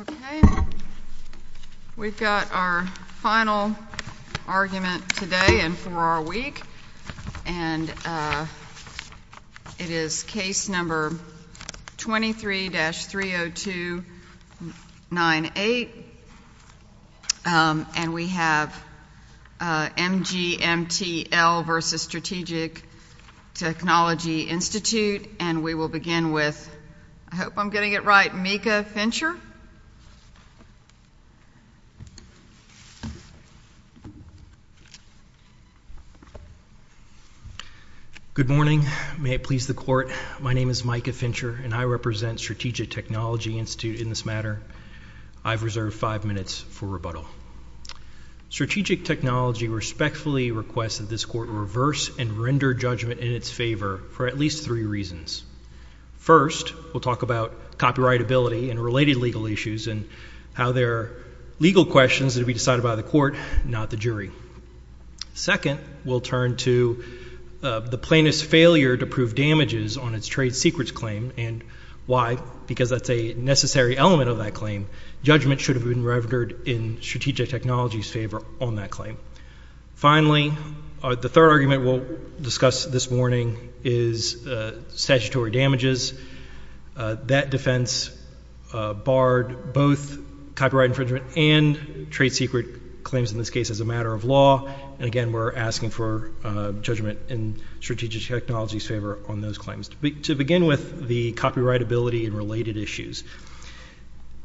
Okay, we've got our final argument today and for our week, and it is case number 23-30298, and we have MGMTL v. Strategic Technology Institute, and we will begin with, I hope I'm getting it right, Micah Fincher? Good morning. May it please the Court, my name is Micah Fincher, and I represent Strategic Technology Institute in this matter. I've reserved five minutes for rebuttal. Strategic Technology respectfully requests that this Court reverse and render judgment in its favor for at least three reasons. First, we'll talk about copyrightability and related legal issues and how they're legal questions that will be decided by the Court, not the jury. Second, we'll turn to the plaintiff's failure to prove damages on its trade secrets claim, and why, because that's a necessary element of that claim. Judgment should have been rendered in Strategic Technology's favor on that claim. Finally, the third argument we'll discuss this morning is statutory damages. That defense barred both copyright infringement and trade secret claims in this case as a matter of law, and again, we're asking for judgment in Strategic Technology's favor on those claims. To begin with, the copyrightability and related issues.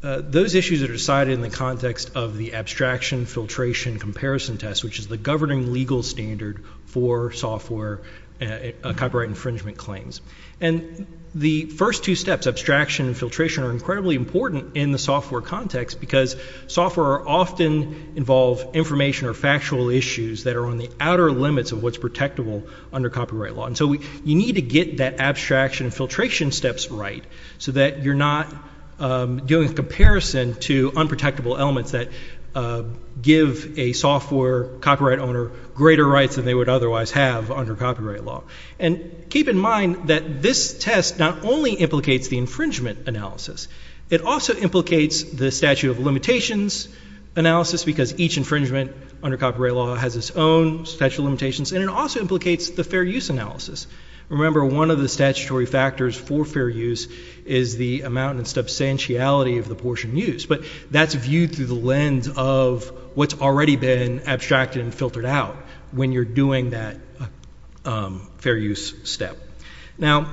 Those issues are decided in the context of the abstraction, filtration, comparison test, which is the governing legal standard for software copyright infringement claims. And the first two steps, abstraction and filtration, are incredibly important in the software context because software often involve information or factual issues that are on the outer limits of what's protectable under copyright law. So you need to get that abstraction and filtration steps right so that you're not doing a comparison to unprotectable elements that give a software copyright owner greater rights than they would otherwise have under copyright law. And keep in mind that this test not only implicates the infringement analysis, it also implicates the statute of limitations analysis because each infringement under copyright law has its own statute of limitations, and it also implicates the fair use analysis. Remember, one of the statutory factors for fair use is the amount and substantiality of the portion used, but that's viewed through the lens of what's already been abstracted and filtered out when you're doing that fair use step. Now,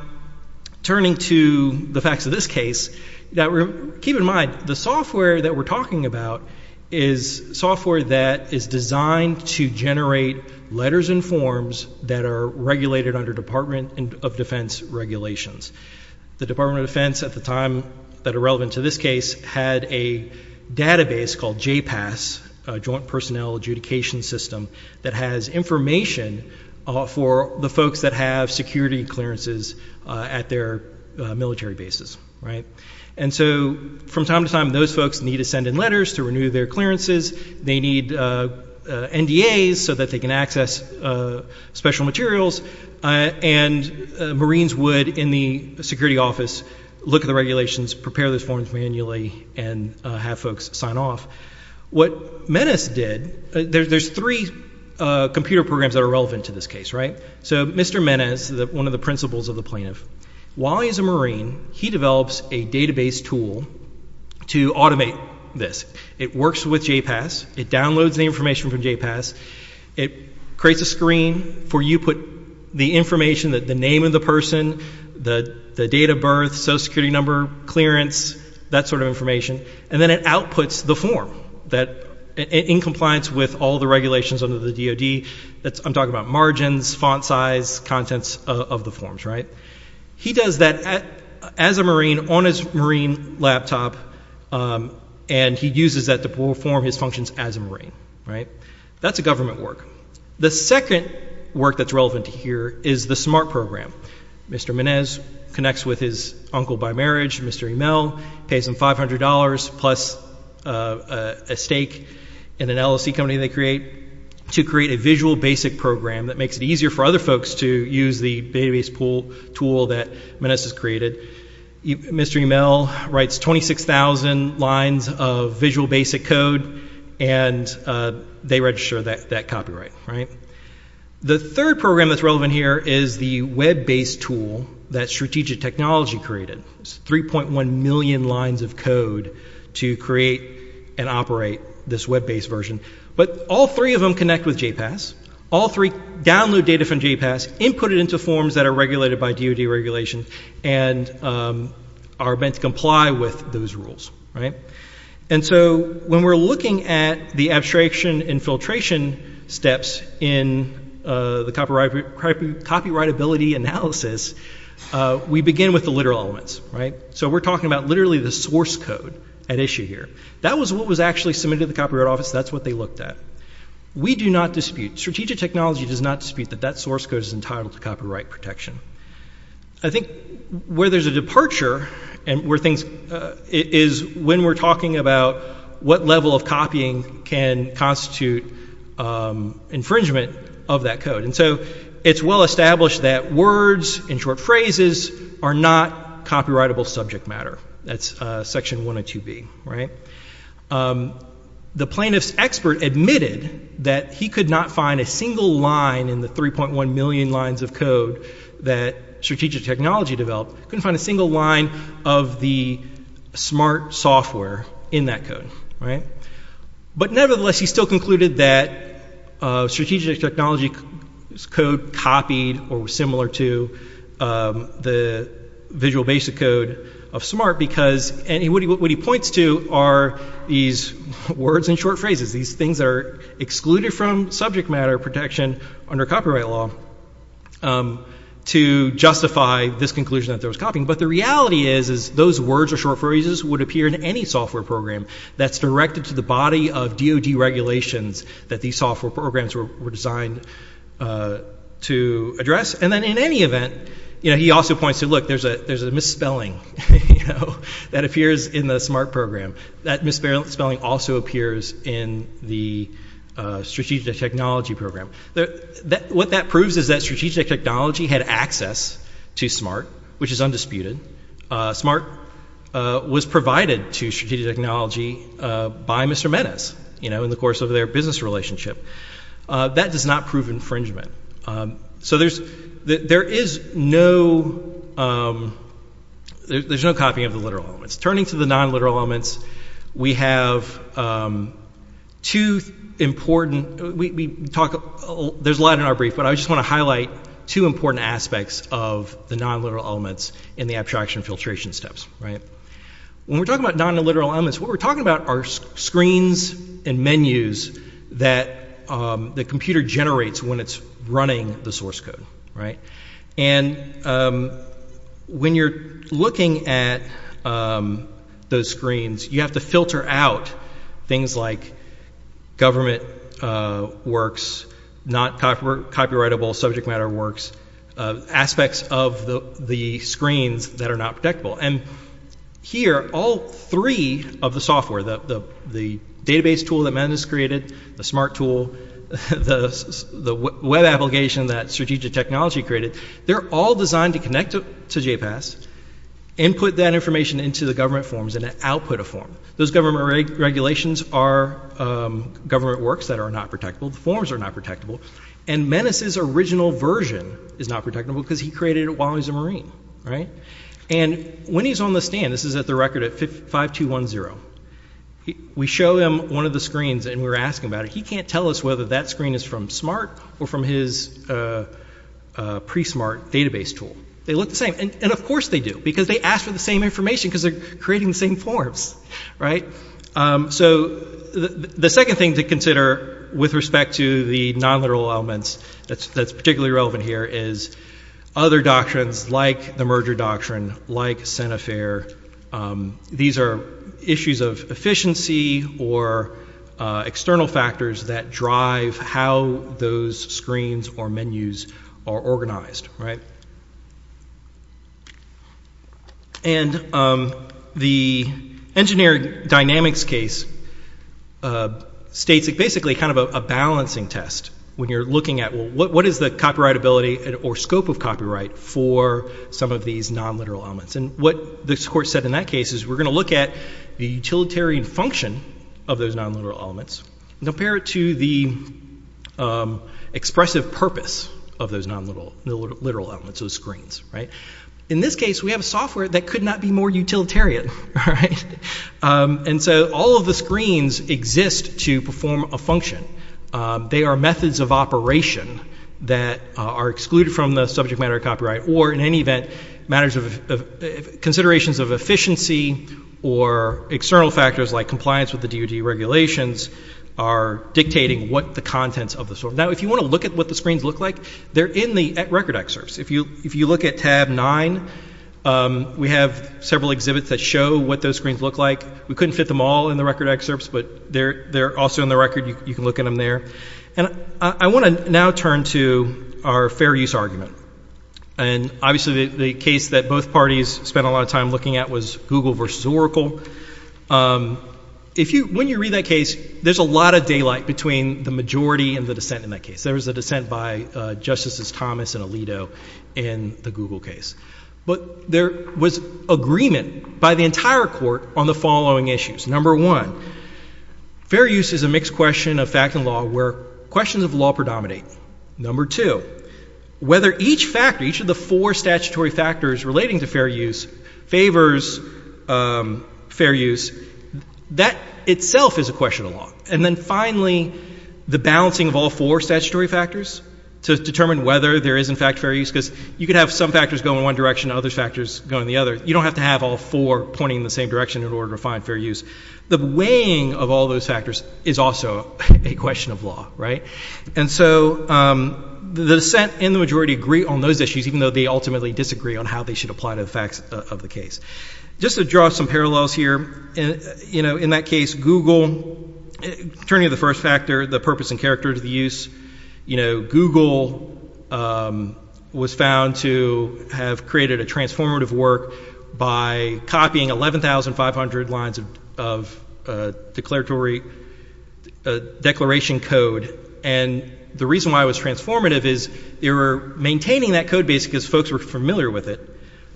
turning to the facts of this case, keep in mind, the software that we're talking about is software that is designed to generate letters and forms that are regulated under Department of Defense regulations. The Department of Defense at the time that are relevant to this case had a database called JPAS, Joint Personnel Adjudication System, that has information for the folks that have security clearances at their military bases, right? And so from time to time, those folks need to send in letters to renew their clearances. They need NDAs so that they can access special materials, and Marines would, in the security office, look at the regulations, prepare those forms manually, and have folks sign off. What Menes did, there's three computer programs that are relevant to this case, right? So Mr. Menes, one of the principals of the plaintiff, while he's a Marine, he develops a database tool to automate this. It works with JPAS. It downloads the information from JPAS. It creates a screen for you to put the information, the name of the person, the date of birth, social security number, clearance, that sort of information, and then it outputs the form in compliance with all the regulations under the DoD. I'm talking about margins, font size, contents of the forms, right? He does that as a Marine on his Marine laptop, and he uses that to perform his functions as a Marine, right? That's a government work. The second work that's relevant here is the SMART program. Mr. Menes connects with his uncle by marriage, Mr. Imel, pays him $500 plus a stake in an LLC company they create to create a visual basic program that makes it easier for other people that Menes has created. Mr. Imel writes 26,000 lines of visual basic code, and they register that copyright, right? The third program that's relevant here is the web-based tool that Strategic Technology created. It's 3.1 million lines of code to create and operate this web-based version, but all three of them connect with JPAS. All three download data from JPAS, input it into forms that are regulated by DoD regulations, and are meant to comply with those rules, right? And so when we're looking at the abstraction infiltration steps in the copyrightability analysis, we begin with the literal elements, right? So we're talking about literally the source code at issue here. That was what was actually submitted to the Copyright Office. That's what they looked at. We do not dispute, Strategic Technology does not dispute that that source code is entitled to copyright protection. I think where there's a departure is when we're talking about what level of copying can constitute infringement of that code. And so it's well established that words and short phrases are not copyrightable subject matter. That's section 102B, right? The plaintiff's expert admitted that he could not find a single line in the 3.1 million lines of code that Strategic Technology developed, couldn't find a single line of the SMART software in that code, right? But nevertheless he still concluded that Strategic Technology's code copied or was similar to the visual basic code of SMART because what he points to are these words and short phrases. These things are excluded from subject matter protection under copyright law to justify this conclusion that there was copying. But the reality is those words or short phrases would appear in any software program that's directed to the body of DOD regulations that these software programs were designed to address. And then in any event, he also points to, look, there's a misspelling that appears in the SMART program. That misspelling also appears in the Strategic Technology program. What that proves is that Strategic Technology had access to SMART, which is undisputed. SMART was provided to Strategic Technology by Mr. Menes in the course of their business relationship. That does not prove infringement. So there is no, there's no copying of the literal elements. Turning to the non-literal elements, we have two important, we talk, there's a lot in our brief, but I just want to highlight two important aspects of the non-literal elements in the abstraction and filtration steps, right? When we're talking about non-literal elements, what we're talking about are screens and menus that the computer generates when it's running the source code, right? And when you're looking at those screens, you have to filter out things like government works, not copyrightable subject matter works, aspects of the screens that are not protectable. And here, all three of the software, the database tool that Menes created, the SMART tool, the web application that Strategic Technology created, they're all designed to connect to JPAS and put that information into the government forms and output a form. Those government regulations are government works that are not protectable, the forms are not protectable, and Menes's original version is not protectable because he created it while he was a Marine, right? And when he's on the stand, this is at the record at 5210, we show him one of the screens and we're asking about it, he can't tell us whether that screen is from SMART or from his pre-SMART database tool. They look the same, and of course they do, because they asked for the same information because they're creating the same forms, right? So the second thing to consider with respect to the non-literal elements that's particularly relevant here is other doctrines like the merger doctrine, like Senefair, these are issues of efficiency or external factors that drive how those screens or menus are organized. And the engineering dynamics case states basically kind of a balancing test when you're looking at what is the copyrightability or scope of copyright for some of these non-literal elements, and what this court said in that case is we're going to look at the utilitarian function of those non-literal elements and compare it to the expressive purpose of those non-literal elements, those screens, right? In this case, we have a software that could not be more utilitarian, right? And so all of the screens exist to perform a function. They are methods of operation that are excluded from the subject matter of copyright, or in any event, matters of considerations of efficiency or external factors like compliance with the DOD regulations are dictating what the contents of the software. Now, if you want to look at what the screens look like, they're in the record excerpts. If you look at tab nine, we have several exhibits that show what those screens look like. We couldn't fit them all in the record excerpts, but they're also in the record. You can look at them there. And I want to now turn to our fair use argument, and obviously the case that both parties spent a lot of time looking at was Google versus Oracle. When you read that case, there's a lot of daylight between the majority and the dissent in that case. There was a dissent by Justices Thomas and Alito in the Google case, but there was agreement by the entire court on the following issues. Number one, fair use is a mixed question of fact and law where questions of law predominate. Number two, whether each factor, each of the four statutory factors relating to fair use favors fair use, that itself is a question of law. And then finally, the balancing of all four statutory factors to determine whether there is in fact fair use, because you could have some factors go in one direction and other factors go in the other. You don't have to have all four pointing in the same direction in order to find fair use. The weighing of all those factors is also a question of law, right? And so the dissent and the majority agree on those issues, even though they ultimately disagree on how they should apply to the facts of the case. Just to draw some parallels here, in that case, Google, turning to the first factor, the purpose and character of the use, Google was found to have created a transformative work by copying 11,500 lines of declaratory declaration code. And the reason why it was transformative is they were maintaining that code base because folks were familiar with it,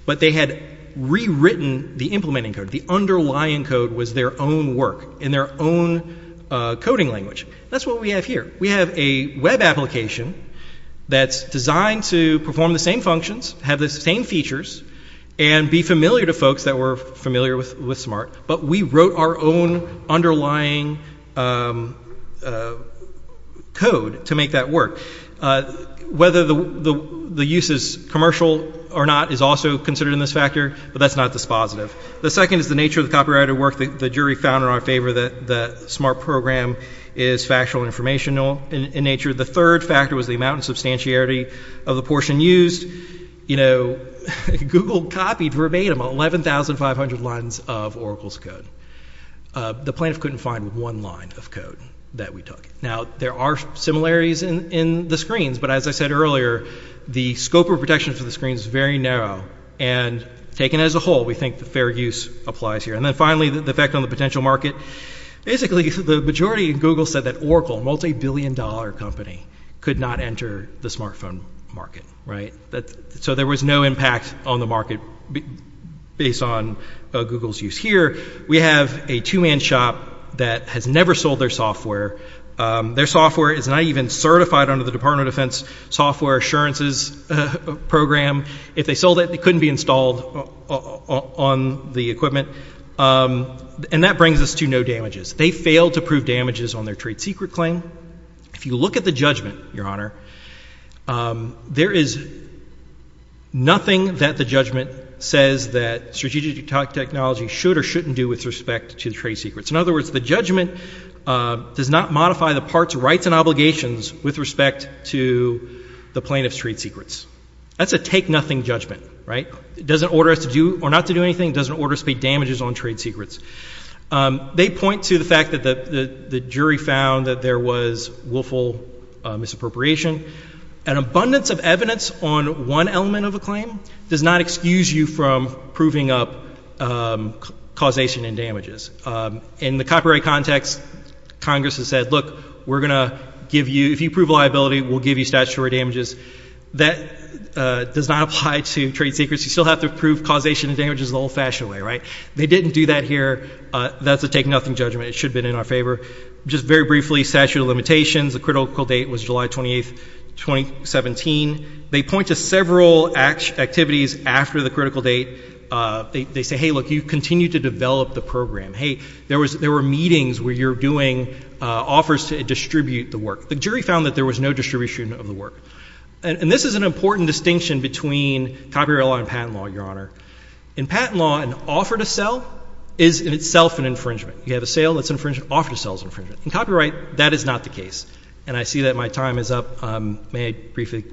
but they had rewritten the implementing code. The underlying code was their own work in their own coding language. That's what we have here. We have a web application that's designed to perform the same functions, have the same features, and be familiar to folks that were familiar with SMART, but we wrote our own underlying code to make that work. Whether the use is commercial or not is also considered in this factor, but that's not dispositive. The second is the nature of the copyrighted work. The jury found in our favor that the SMART program is factual and informational in nature. The third factor was the amount and substantiarity of the portion used. Google copied verbatim 11,500 lines of Oracle's code. The plaintiff couldn't find one line of code that we took. Now, there are similarities in the screens, but as I said earlier, the scope of protection for the screens is very narrow, and taken as a whole, we think the fair use applies here. And then finally, the effect on the potential market. Basically, the majority of Google said that Oracle, a multi-billion dollar company, could not enter the smartphone market. So there was no impact on the market based on Google's use here. We have a two-man shop that has never sold their software. Their software is not even certified under the Department of Defense software assurances program. If they sold it, it couldn't be installed on the equipment. And that brings us to no damages. They failed to prove damages on their trade secret claim. If you look at the judgment, Your Honor, there is nothing that the judgment says that strategic technology should or shouldn't do with respect to the trade secrets. In other words, the judgment does not modify the part's rights and obligations with respect to the plaintiff's trade secrets. That's a take-nothing judgment, right? It doesn't order us to do or not to do anything. It doesn't order us to pay damages on trade secrets. They point to the fact that the jury found that there was willful misappropriation. An abundance of evidence on one element of a claim does not excuse you from proving up causation and damages. In the copyright context, Congress has said, look, we're going to give you—if you prove liability, we'll give you statutory damages. That does not apply to trade secrets. You still have to prove causation and damages the old-fashioned way, right? They didn't do that here. That's a take-nothing judgment. It should have been in our favor. Just very briefly, statute of limitations, the critical date was July 28, 2017. They point to several activities after the critical date. They say, hey, look, you continue to develop the program. Hey, there were meetings where you're doing offers to distribute the work. The jury found that there was no distribution of the work. And this is an important distinction between copyright law and patent law, Your Honor. In patent law, an offer to sell is in itself an infringement. You have a sale that's infringement, offer to sell is infringement. In copyright, that is not the case. And I see that my time is up. May I briefly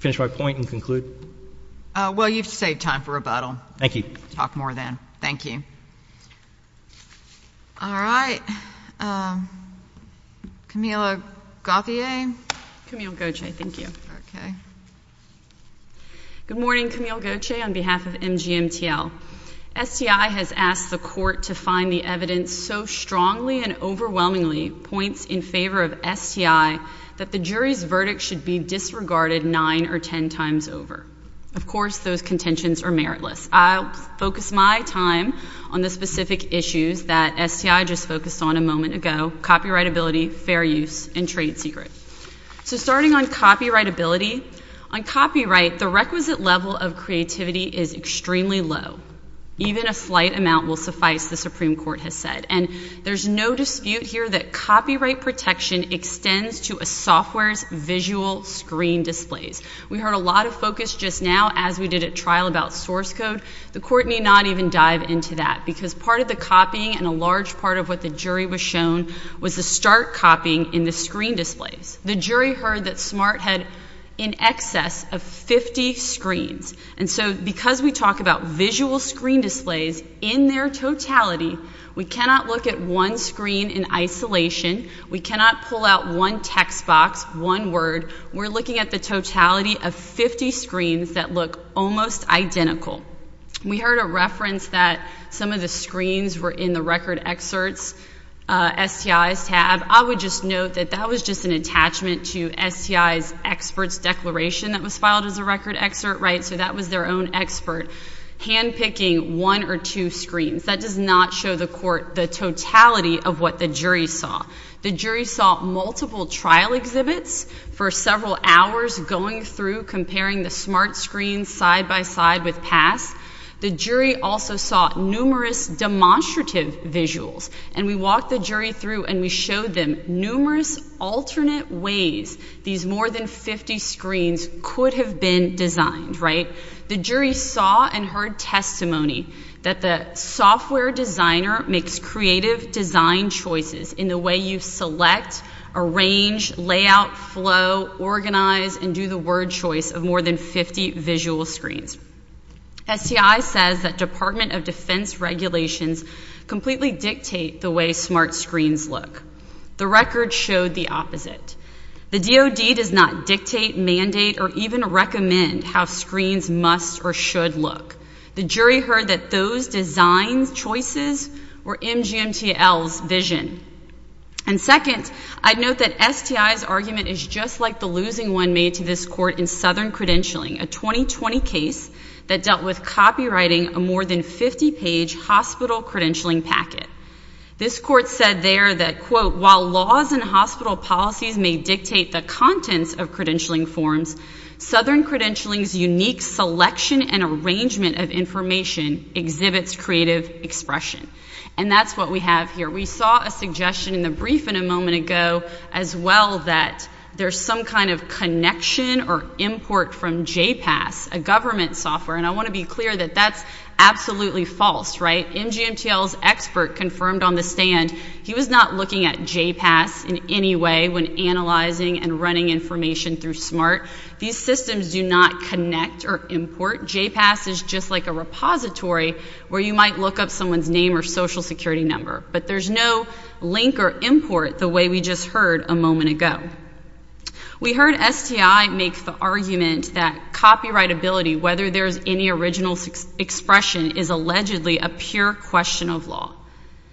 finish my point and conclude? Well, you've saved time for rebuttal. Thank you. Talk more then. Thank you. All right. Camila Gauthier? Camila Gauthier. Thank you. Thank you. Okay. Good morning. Camila Gauthier on behalf of MGMTL. STI has asked the court to find the evidence so strongly and overwhelmingly points in favor of STI that the jury's verdict should be disregarded nine or ten times over. Of course, those contentions are meritless. I'll focus my time on the specific issues that STI just focused on a moment ago, copyrightability, fair use, and trade secret. So starting on copyrightability, on copyright, the requisite level of creativity is extremely low. Even a slight amount will suffice, the Supreme Court has said. And there's no dispute here that copyright protection extends to a software's visual screen displays. We heard a lot of focus just now as we did at trial about source code. The court need not even dive into that because part of the copying and a large part of what the jury was shown was the stark copying in the screen displays. The jury heard that SMART had in excess of 50 screens. And so because we talk about visual screen displays in their totality, we cannot look at one screen in isolation. We cannot pull out one text box, one word. We're looking at the totality of 50 screens that look almost identical. We heard a reference that some of the screens were in the record excerpts, STI's tab. I would just note that that was just an attachment to STI's expert's declaration that was filed as a record excerpt, right, so that was their own expert handpicking one or two screens. That does not show the court the totality of what the jury saw. The jury saw multiple trial exhibits for several hours going through, comparing the SMART screens side by side with PASS. The jury also saw numerous demonstrative visuals, and we walked the jury through and we showed them numerous alternate ways these more than 50 screens could have been designed, right? The jury saw and heard testimony that the software designer makes creative design choices in the way you select, arrange, layout, flow, organize, and do the word choice of more than 50 visual screens. STI says that Department of Defense regulations completely dictate the way SMART screens look. The record showed the opposite. The DoD does not dictate, mandate, or even recommend how screens must or should look. The jury heard that those design choices were MGMTL's vision. And second, I'd note that STI's argument is just like the losing one made to this court in Southern Credentialing, a 2020 case that dealt with copywriting a more than 50-page hospital credentialing packet. This court said there that, quote, while laws and hospital policies may dictate the contents of credentialing forms, Southern Credentialing's unique selection and arrangement of information exhibits creative expression. And that's what we have here. We saw a suggestion in the brief in a moment ago as well that there's some kind of connection or import from J-PASS, a government software. And I want to be clear that that's absolutely false, right? MGMTL's expert confirmed on the stand he was not looking at J-PASS in any way when analyzing and running information through SMART. These systems do not connect or import. J-PASS is just like a repository where you might look up someone's name or social security number. But there's no link or import the way we just heard a moment ago. We heard STI make the argument that copyrightability, whether there's any original expression, is allegedly a pure question of law.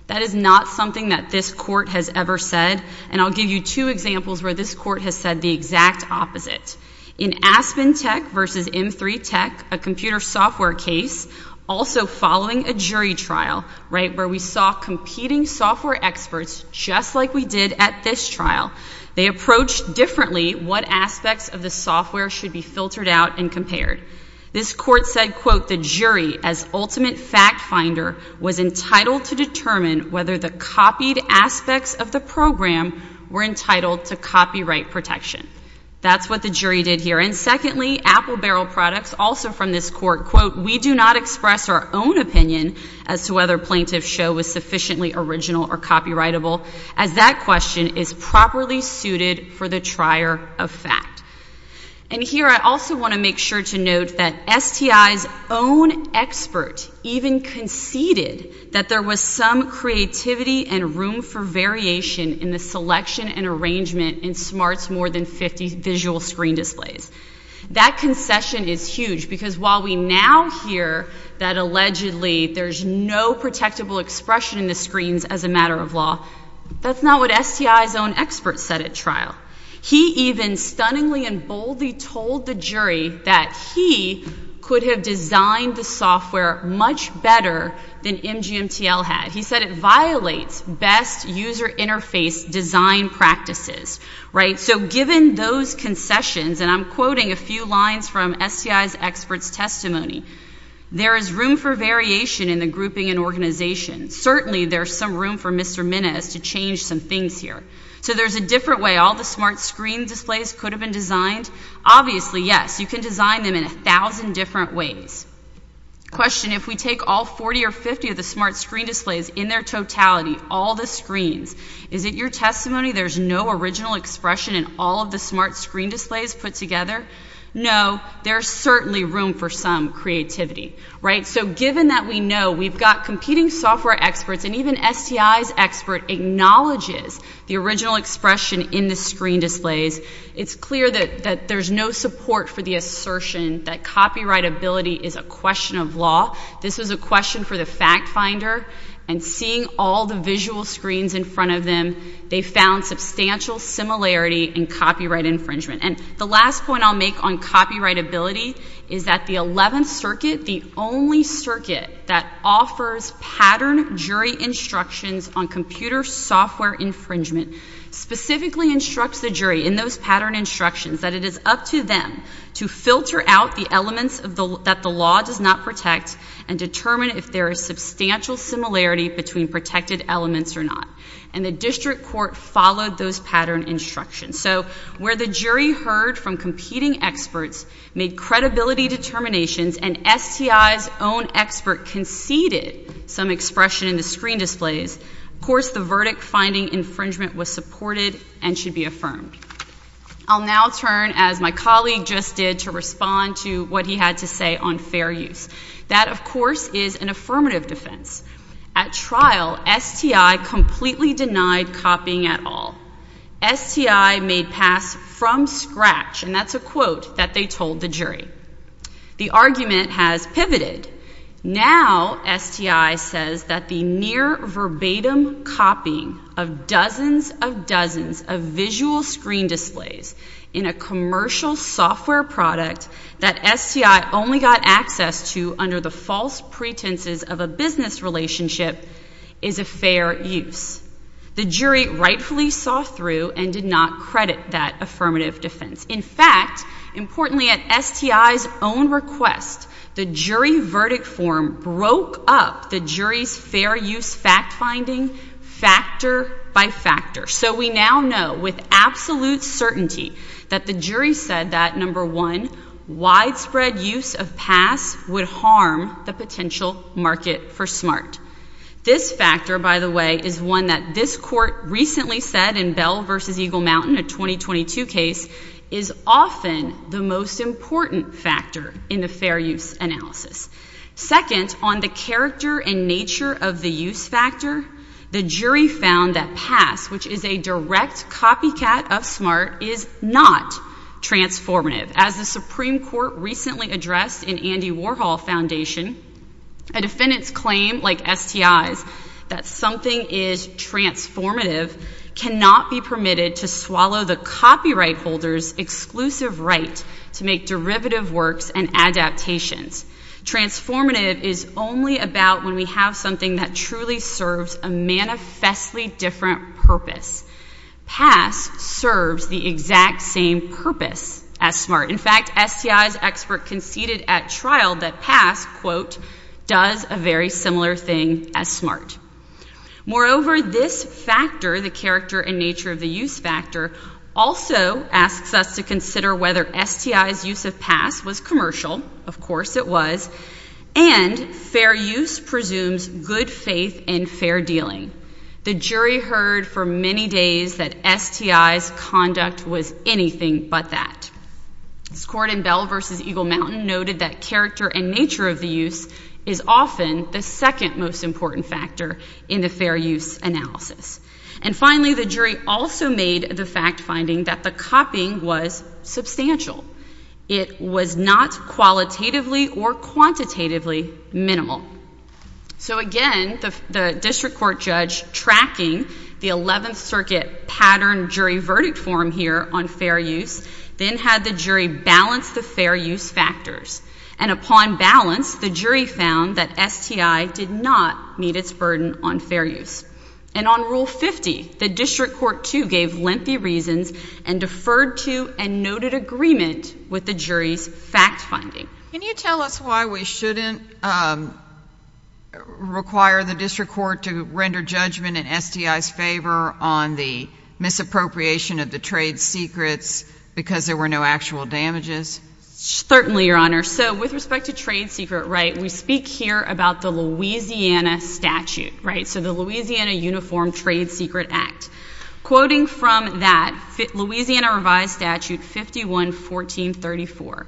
That is not something that this court has ever said. And I'll give you two examples where this court has said the exact opposite. In Aspen Tech versus M3 Tech, a computer software case, also following a jury trial, right, where we saw competing software experts just like we did at this trial, they approached differently what aspects of the software should be filtered out and compared. This court said, quote, the jury, as ultimate fact finder, was entitled to determine whether the copied aspects of the program were entitled to copyright protection. That's what the jury did here. And secondly, Apple Barrel Products, also from this court, quote, we do not express our own opinion as to whether Plaintiff's Show was sufficiently original or copyrightable, as that question is properly suited for the trier of fact. And here I also want to make sure to note that STI's own expert even conceded that there was some creativity and room for variation in the selection and arrangement in Smart's more than 50 visual screen displays. That concession is huge, because while we now hear that allegedly there's no protectable expression in the screens as a matter of law, that's not what STI's own expert said at trial. He even stunningly and boldly told the jury that he could have designed the software much better than MGMTL had. He said it violates best user interface design practices, right? So given those concessions, and I'm quoting a few lines from STI's expert's testimony, there is room for variation in the grouping and organization. Certainly there's some room for Mr. Minnis to change some things here. So there's a different way all the smart screen displays could have been designed? Obviously, yes. You can design them in a thousand different ways. Question, if we take all 40 or 50 of the smart screen displays in their totality, all the Is it your testimony there's no original expression in all of the smart screen displays put together? No, there's certainly room for some creativity, right? So given that we know we've got competing software experts, and even STI's expert acknowledges the original expression in the screen displays, it's clear that there's no support for the assertion that copyrightability is a question of law. This was a question for the fact finder. And seeing all the visual screens in front of them, they found substantial similarity in copyright infringement. And the last point I'll make on copyrightability is that the 11th Circuit, the only circuit that offers pattern jury instructions on computer software infringement, specifically instructs the jury in those pattern instructions that it is up to them to filter out the elements that the law does not protect and determine if there is substantial similarity between protected elements or not. And the district court followed those pattern instructions. So where the jury heard from competing experts, made credibility determinations, and STI's own expert conceded some expression in the screen displays, of course the verdict finding infringement was supported and should be affirmed. I'll now turn, as my colleague just did, to respond to what he had to say on fair use. That of course is an affirmative defense. At trial, STI completely denied copying at all. STI made pass from scratch, and that's a quote that they told the jury. The argument has pivoted. Now STI says that the near verbatim copying of dozens of dozens of visual screen displays in a commercial software product that STI only got access to under the false pretenses of a business relationship is a fair use. The jury rightfully saw through and did not credit that affirmative defense. In fact, importantly at STI's own request, the jury verdict form broke up the jury's fair use fact finding factor by factor. So we now know with absolute certainty that the jury said that, number one, widespread use of pass would harm the potential market for SMART. This factor, by the way, is one that this court recently said in Bell v. Eagle Mountain, a 2022 case, is often the most important factor in the fair use analysis. Second, on the character and nature of the use factor, the jury found that pass, which is a direct copycat of SMART, is not transformative. As the Supreme Court recently addressed in Andy Warhol Foundation, a defendant's claim like STI's that something is transformative cannot be permitted to swallow the copyright holder's exclusive right to make derivative works and adaptations. Transformative is only about when we have something that truly serves a manifestly different purpose. Pass serves the exact same purpose as SMART. In fact, STI's expert conceded at trial that pass, quote, does a very similar thing as Moreover, this factor, the character and nature of the use factor, also asks us to consider whether STI's use of pass was commercial, of course it was, and fair use presumes good faith and fair dealing. The jury heard for many days that STI's conduct was anything but that. This court in Bell v. Eagle Mountain noted that character and nature of the use is often the second most important factor in the fair use analysis. And finally, the jury also made the fact finding that the copying was substantial. It was not qualitatively or quantitatively minimal. So again, the district court judge tracking the 11th Circuit pattern jury verdict form here on fair use, then had the jury balance the fair use factors. And upon balance, the jury found that STI did not meet its burden on fair use. And on Rule 50, the district court too gave lengthy reasons and deferred to and noted agreement with the jury's fact finding. Can you tell us why we shouldn't require the district court to render judgment in STI's favor on the misappropriation of the trade secrets because there were no actual damages? Certainly, Your Honor. So with respect to trade secret, right, we speak here about the Louisiana statute, right? So the Louisiana Uniform Trade Secret Act. Quoting from that, Louisiana revised statute 51-1434,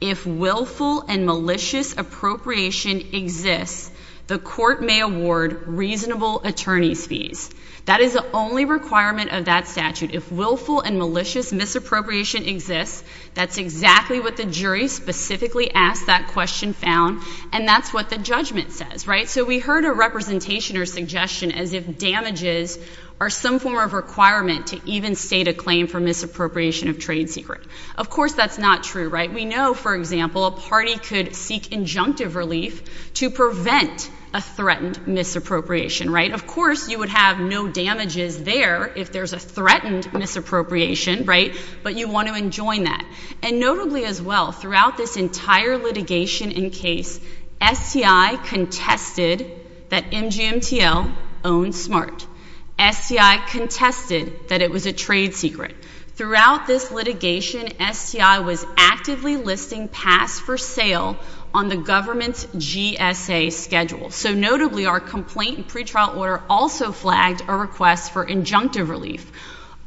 if willful and malicious appropriation exists, the court may award reasonable attorney's fees. That is the only requirement of that statute. If willful and malicious misappropriation exists, that's exactly what the jury specifically asked that question found, and that's what the judgment says, right? So we heard a representation or suggestion as if damages are some form of requirement to even state a claim for misappropriation of trade secret. Of course, that's not true, right? We know, for example, a party could seek injunctive relief to prevent a threatened misappropriation, right? Of course, you would have no damages there if there's a threatened misappropriation, right? But you want to enjoin that. And notably as well, throughout this entire litigation and case, STI contested that MGMTL owned SMART. STI contested that it was a trade secret. Throughout this litigation, STI was actively listing pass for sale on the government's GSA schedule. So notably, our complaint and pretrial order also flagged a request for injunctive relief.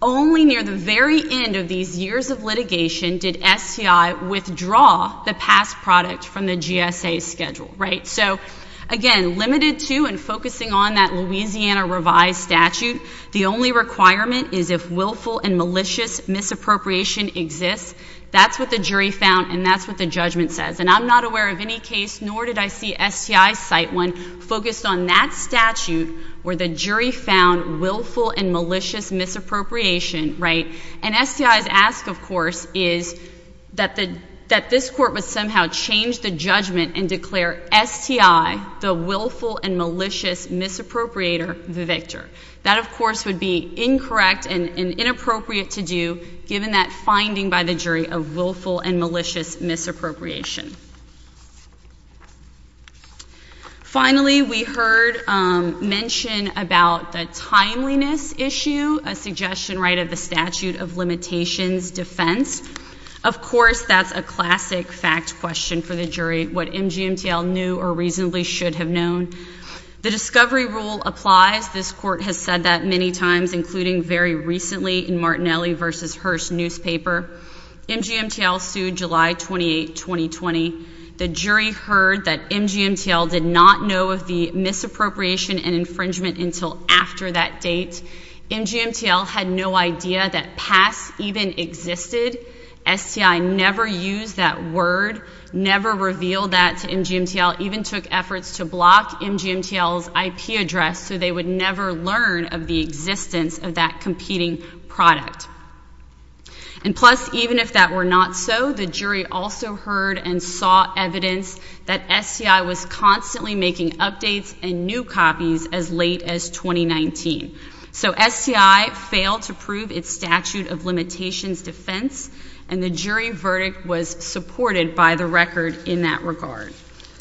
Only near the very end of these years of litigation did STI withdraw the pass product from the GSA schedule, right? So again, limited to and focusing on that Louisiana revised statute, the only requirement is if willful and malicious misappropriation exists. That's what the jury found, and that's what the judgment says. And I'm not aware of any case, nor did I see STI cite one focused on that statute where the jury found willful and malicious misappropriation, right? And STI's ask, of course, is that this court would somehow change the judgment and declare STI, the willful and malicious misappropriator, the victor. That of course would be incorrect and inappropriate to do given that finding by the jury of willful and malicious misappropriation. Finally, we heard mention about the timeliness issue, a suggestion, right, of the statute of limitations defense. Of course, that's a classic fact question for the jury, what MGMTL knew or reasonably should have known. The discovery rule applies. This court has said that many times, including very recently in Martinelli v. Hearst newspaper. MGMTL sued July 28, 2020. The jury heard that MGMTL did not know of the misappropriation and infringement until after that date. MGMTL had no idea that PASS even existed. STI never used that word, never revealed that to MGMTL, even took efforts to block MGMTL's IP address so they would never learn of the existence of that competing product. And plus, even if that were not so, the jury also heard and saw evidence that STI was constantly making updates and new copies as late as 2019. So STI failed to prove its statute of limitations defense and the jury verdict was supported by the record in that regard.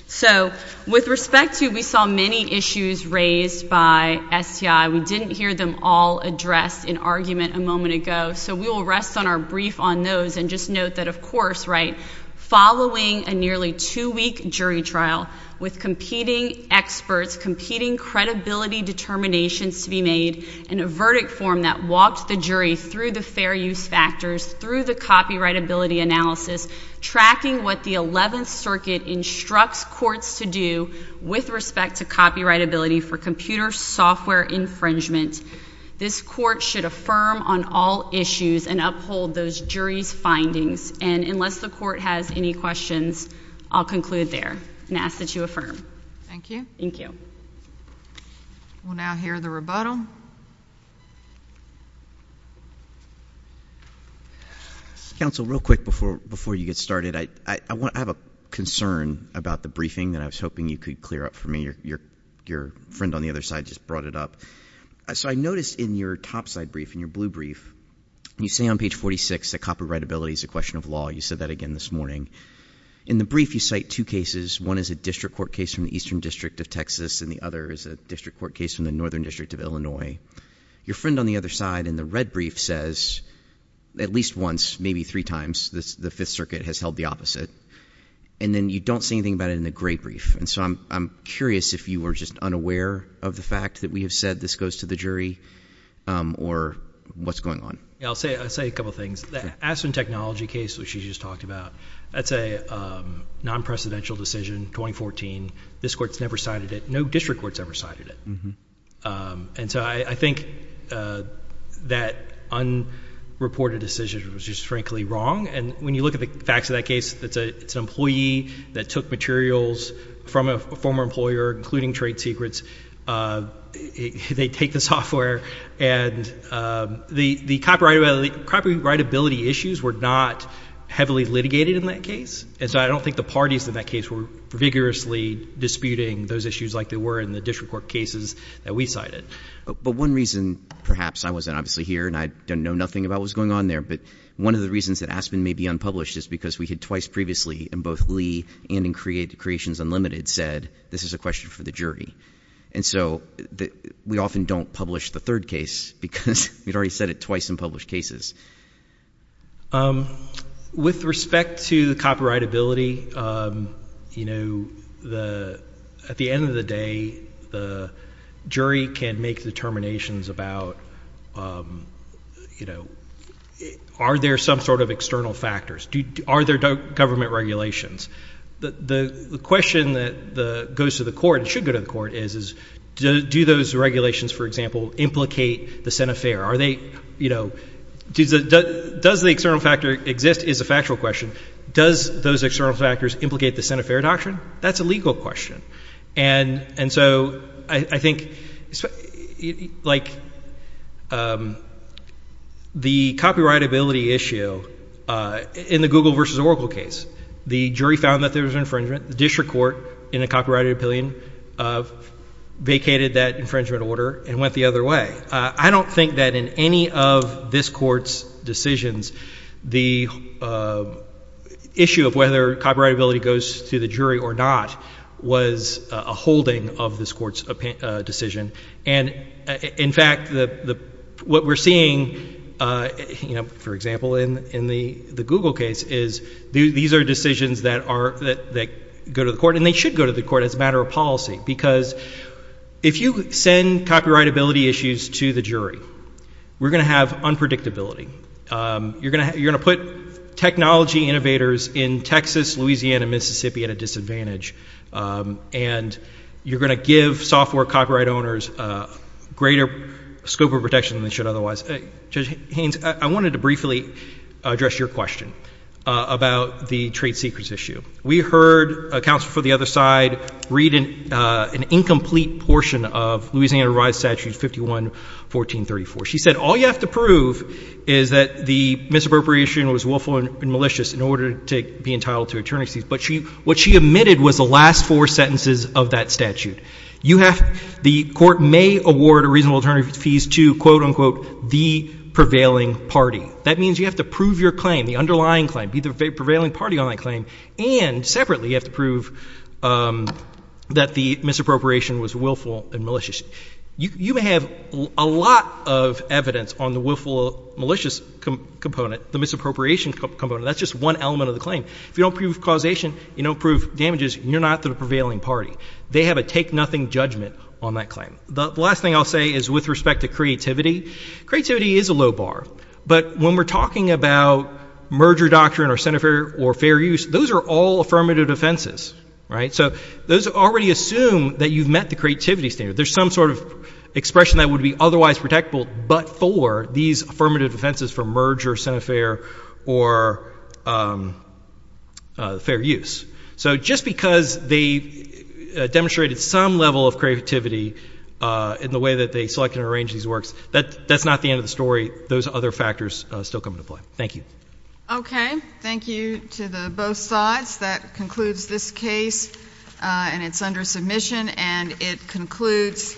So with respect to, we saw many issues raised by STI, we didn't hear them all addressed in argument a moment ago. So we will rest on our brief on those and just note that of course, right, following a nearly two-week jury trial with competing experts, competing credibility determinations to be made in a verdict form that walked the jury through the fair use factors, through the copyrightability analysis, tracking what the 11th Circuit instructs courts to do with respect to copyrightability for computer software infringement. This court should affirm on all issues and uphold those jury's findings. And unless the court has any questions, I'll conclude there and ask that you affirm. Thank you. Thank you. We'll now hear the rebuttal. Counsel, real quick before you get started, I have a concern about the briefing that I was hoping you could clear up for me. Your friend on the other side just brought it up. So I noticed in your topside brief, in your blue brief, you say on page 46 that copyrightability is a question of law. You said that again this morning. In the brief, you cite two cases. One is a district court case from the Eastern District of Texas and the other is a district court case from the Northern District of Illinois. Your friend on the other side in the red brief says at least once, maybe three times, the Fifth Circuit has held the opposite. And then you don't say anything about it in the gray brief. And so I'm curious if you are just unaware of the fact that we have said this goes to the jury or what's going on. I'll say a couple things. The Aspen Technology case, which you just talked about, that's a non-precedential decision, 2014. This court's never cited it. No district court's ever cited it. And so I think that unreported decision was just frankly wrong. And when you look at the facts of that case, it's an employee that took materials from a former employer, including trade secrets. They take the software and the copyrightability issues were not heavily litigated in that case. And so I don't think the parties in that case were vigorously disputing those issues like they were in the district court cases that we cited. But one reason, perhaps, I wasn't obviously here and I don't know nothing about what's going on there, but one of the reasons that Aspen may be unpublished is because we had twice previously in both Lee and in Creations Unlimited said this is a question for the And so we often don't publish the third case because we'd already said it twice in published cases. With respect to the copyrightability, at the end of the day, the jury can make determinations about are there some sort of external factors? Are there government regulations? The question that goes to the court and should go to the court is, do those regulations, for example, implicate the Senefair? Does the external factor exist is a factual question. Does those external factors implicate the Senefair doctrine? That's a legal question. And so I think like the copyrightability issue in the Google versus Oracle case, the jury found that there was an infringement, the district court in a copyrighted opinion vacated that infringement order and went the other way. I don't think that in any of this court's decisions, the issue of whether copyrightability goes to the jury or not was a holding of this court's decision. And in fact, what we're seeing, for example, in the Google case is these are decisions that go to the court and they should go to the court as a matter of policy because if you send copyrightability issues to the jury, we're going to have unpredictability. You're going to put technology innovators in Texas, Louisiana, Mississippi at a disadvantage and you're going to give software copyright owners a greater scope of protection than they should otherwise. Judge Haynes, I wanted to briefly address your question about the trade secrets issue. We heard a counsel from the other side read an incomplete portion of Louisiana Rides Statute 51-1434. She said all you have to prove is that the misappropriation was willful and malicious in order to be entitled to attorney's fees. But what she omitted was the last four sentences of that statute. The court may award a reasonable attorney's fees to, quote unquote, the prevailing party. That means you have to prove your claim, the underlying claim, be the prevailing party on that claim, and separately you have to prove that the misappropriation was willful and malicious. You may have a lot of evidence on the willful, malicious component, the misappropriation component. That's just one element of the claim. If you don't prove causation, you don't prove damages, you're not the prevailing party. They have a take-nothing judgment on that claim. The last thing I'll say is with respect to creativity, creativity is a low bar. But when we're talking about merger doctrine or fair use, those are all affirmative offenses. So those already assume that you've met the creativity standard. There's some sort of expression that would be otherwise protectable but for these affirmative offenses for merger, centerfair, or fair use. So just because they demonstrated some level of creativity in the way that they selected and arranged these works, that's not the end of the story. Those other factors still come into play. Thank you. Okay. Thank you to both sides. That concludes this case and it's under submission and it concludes.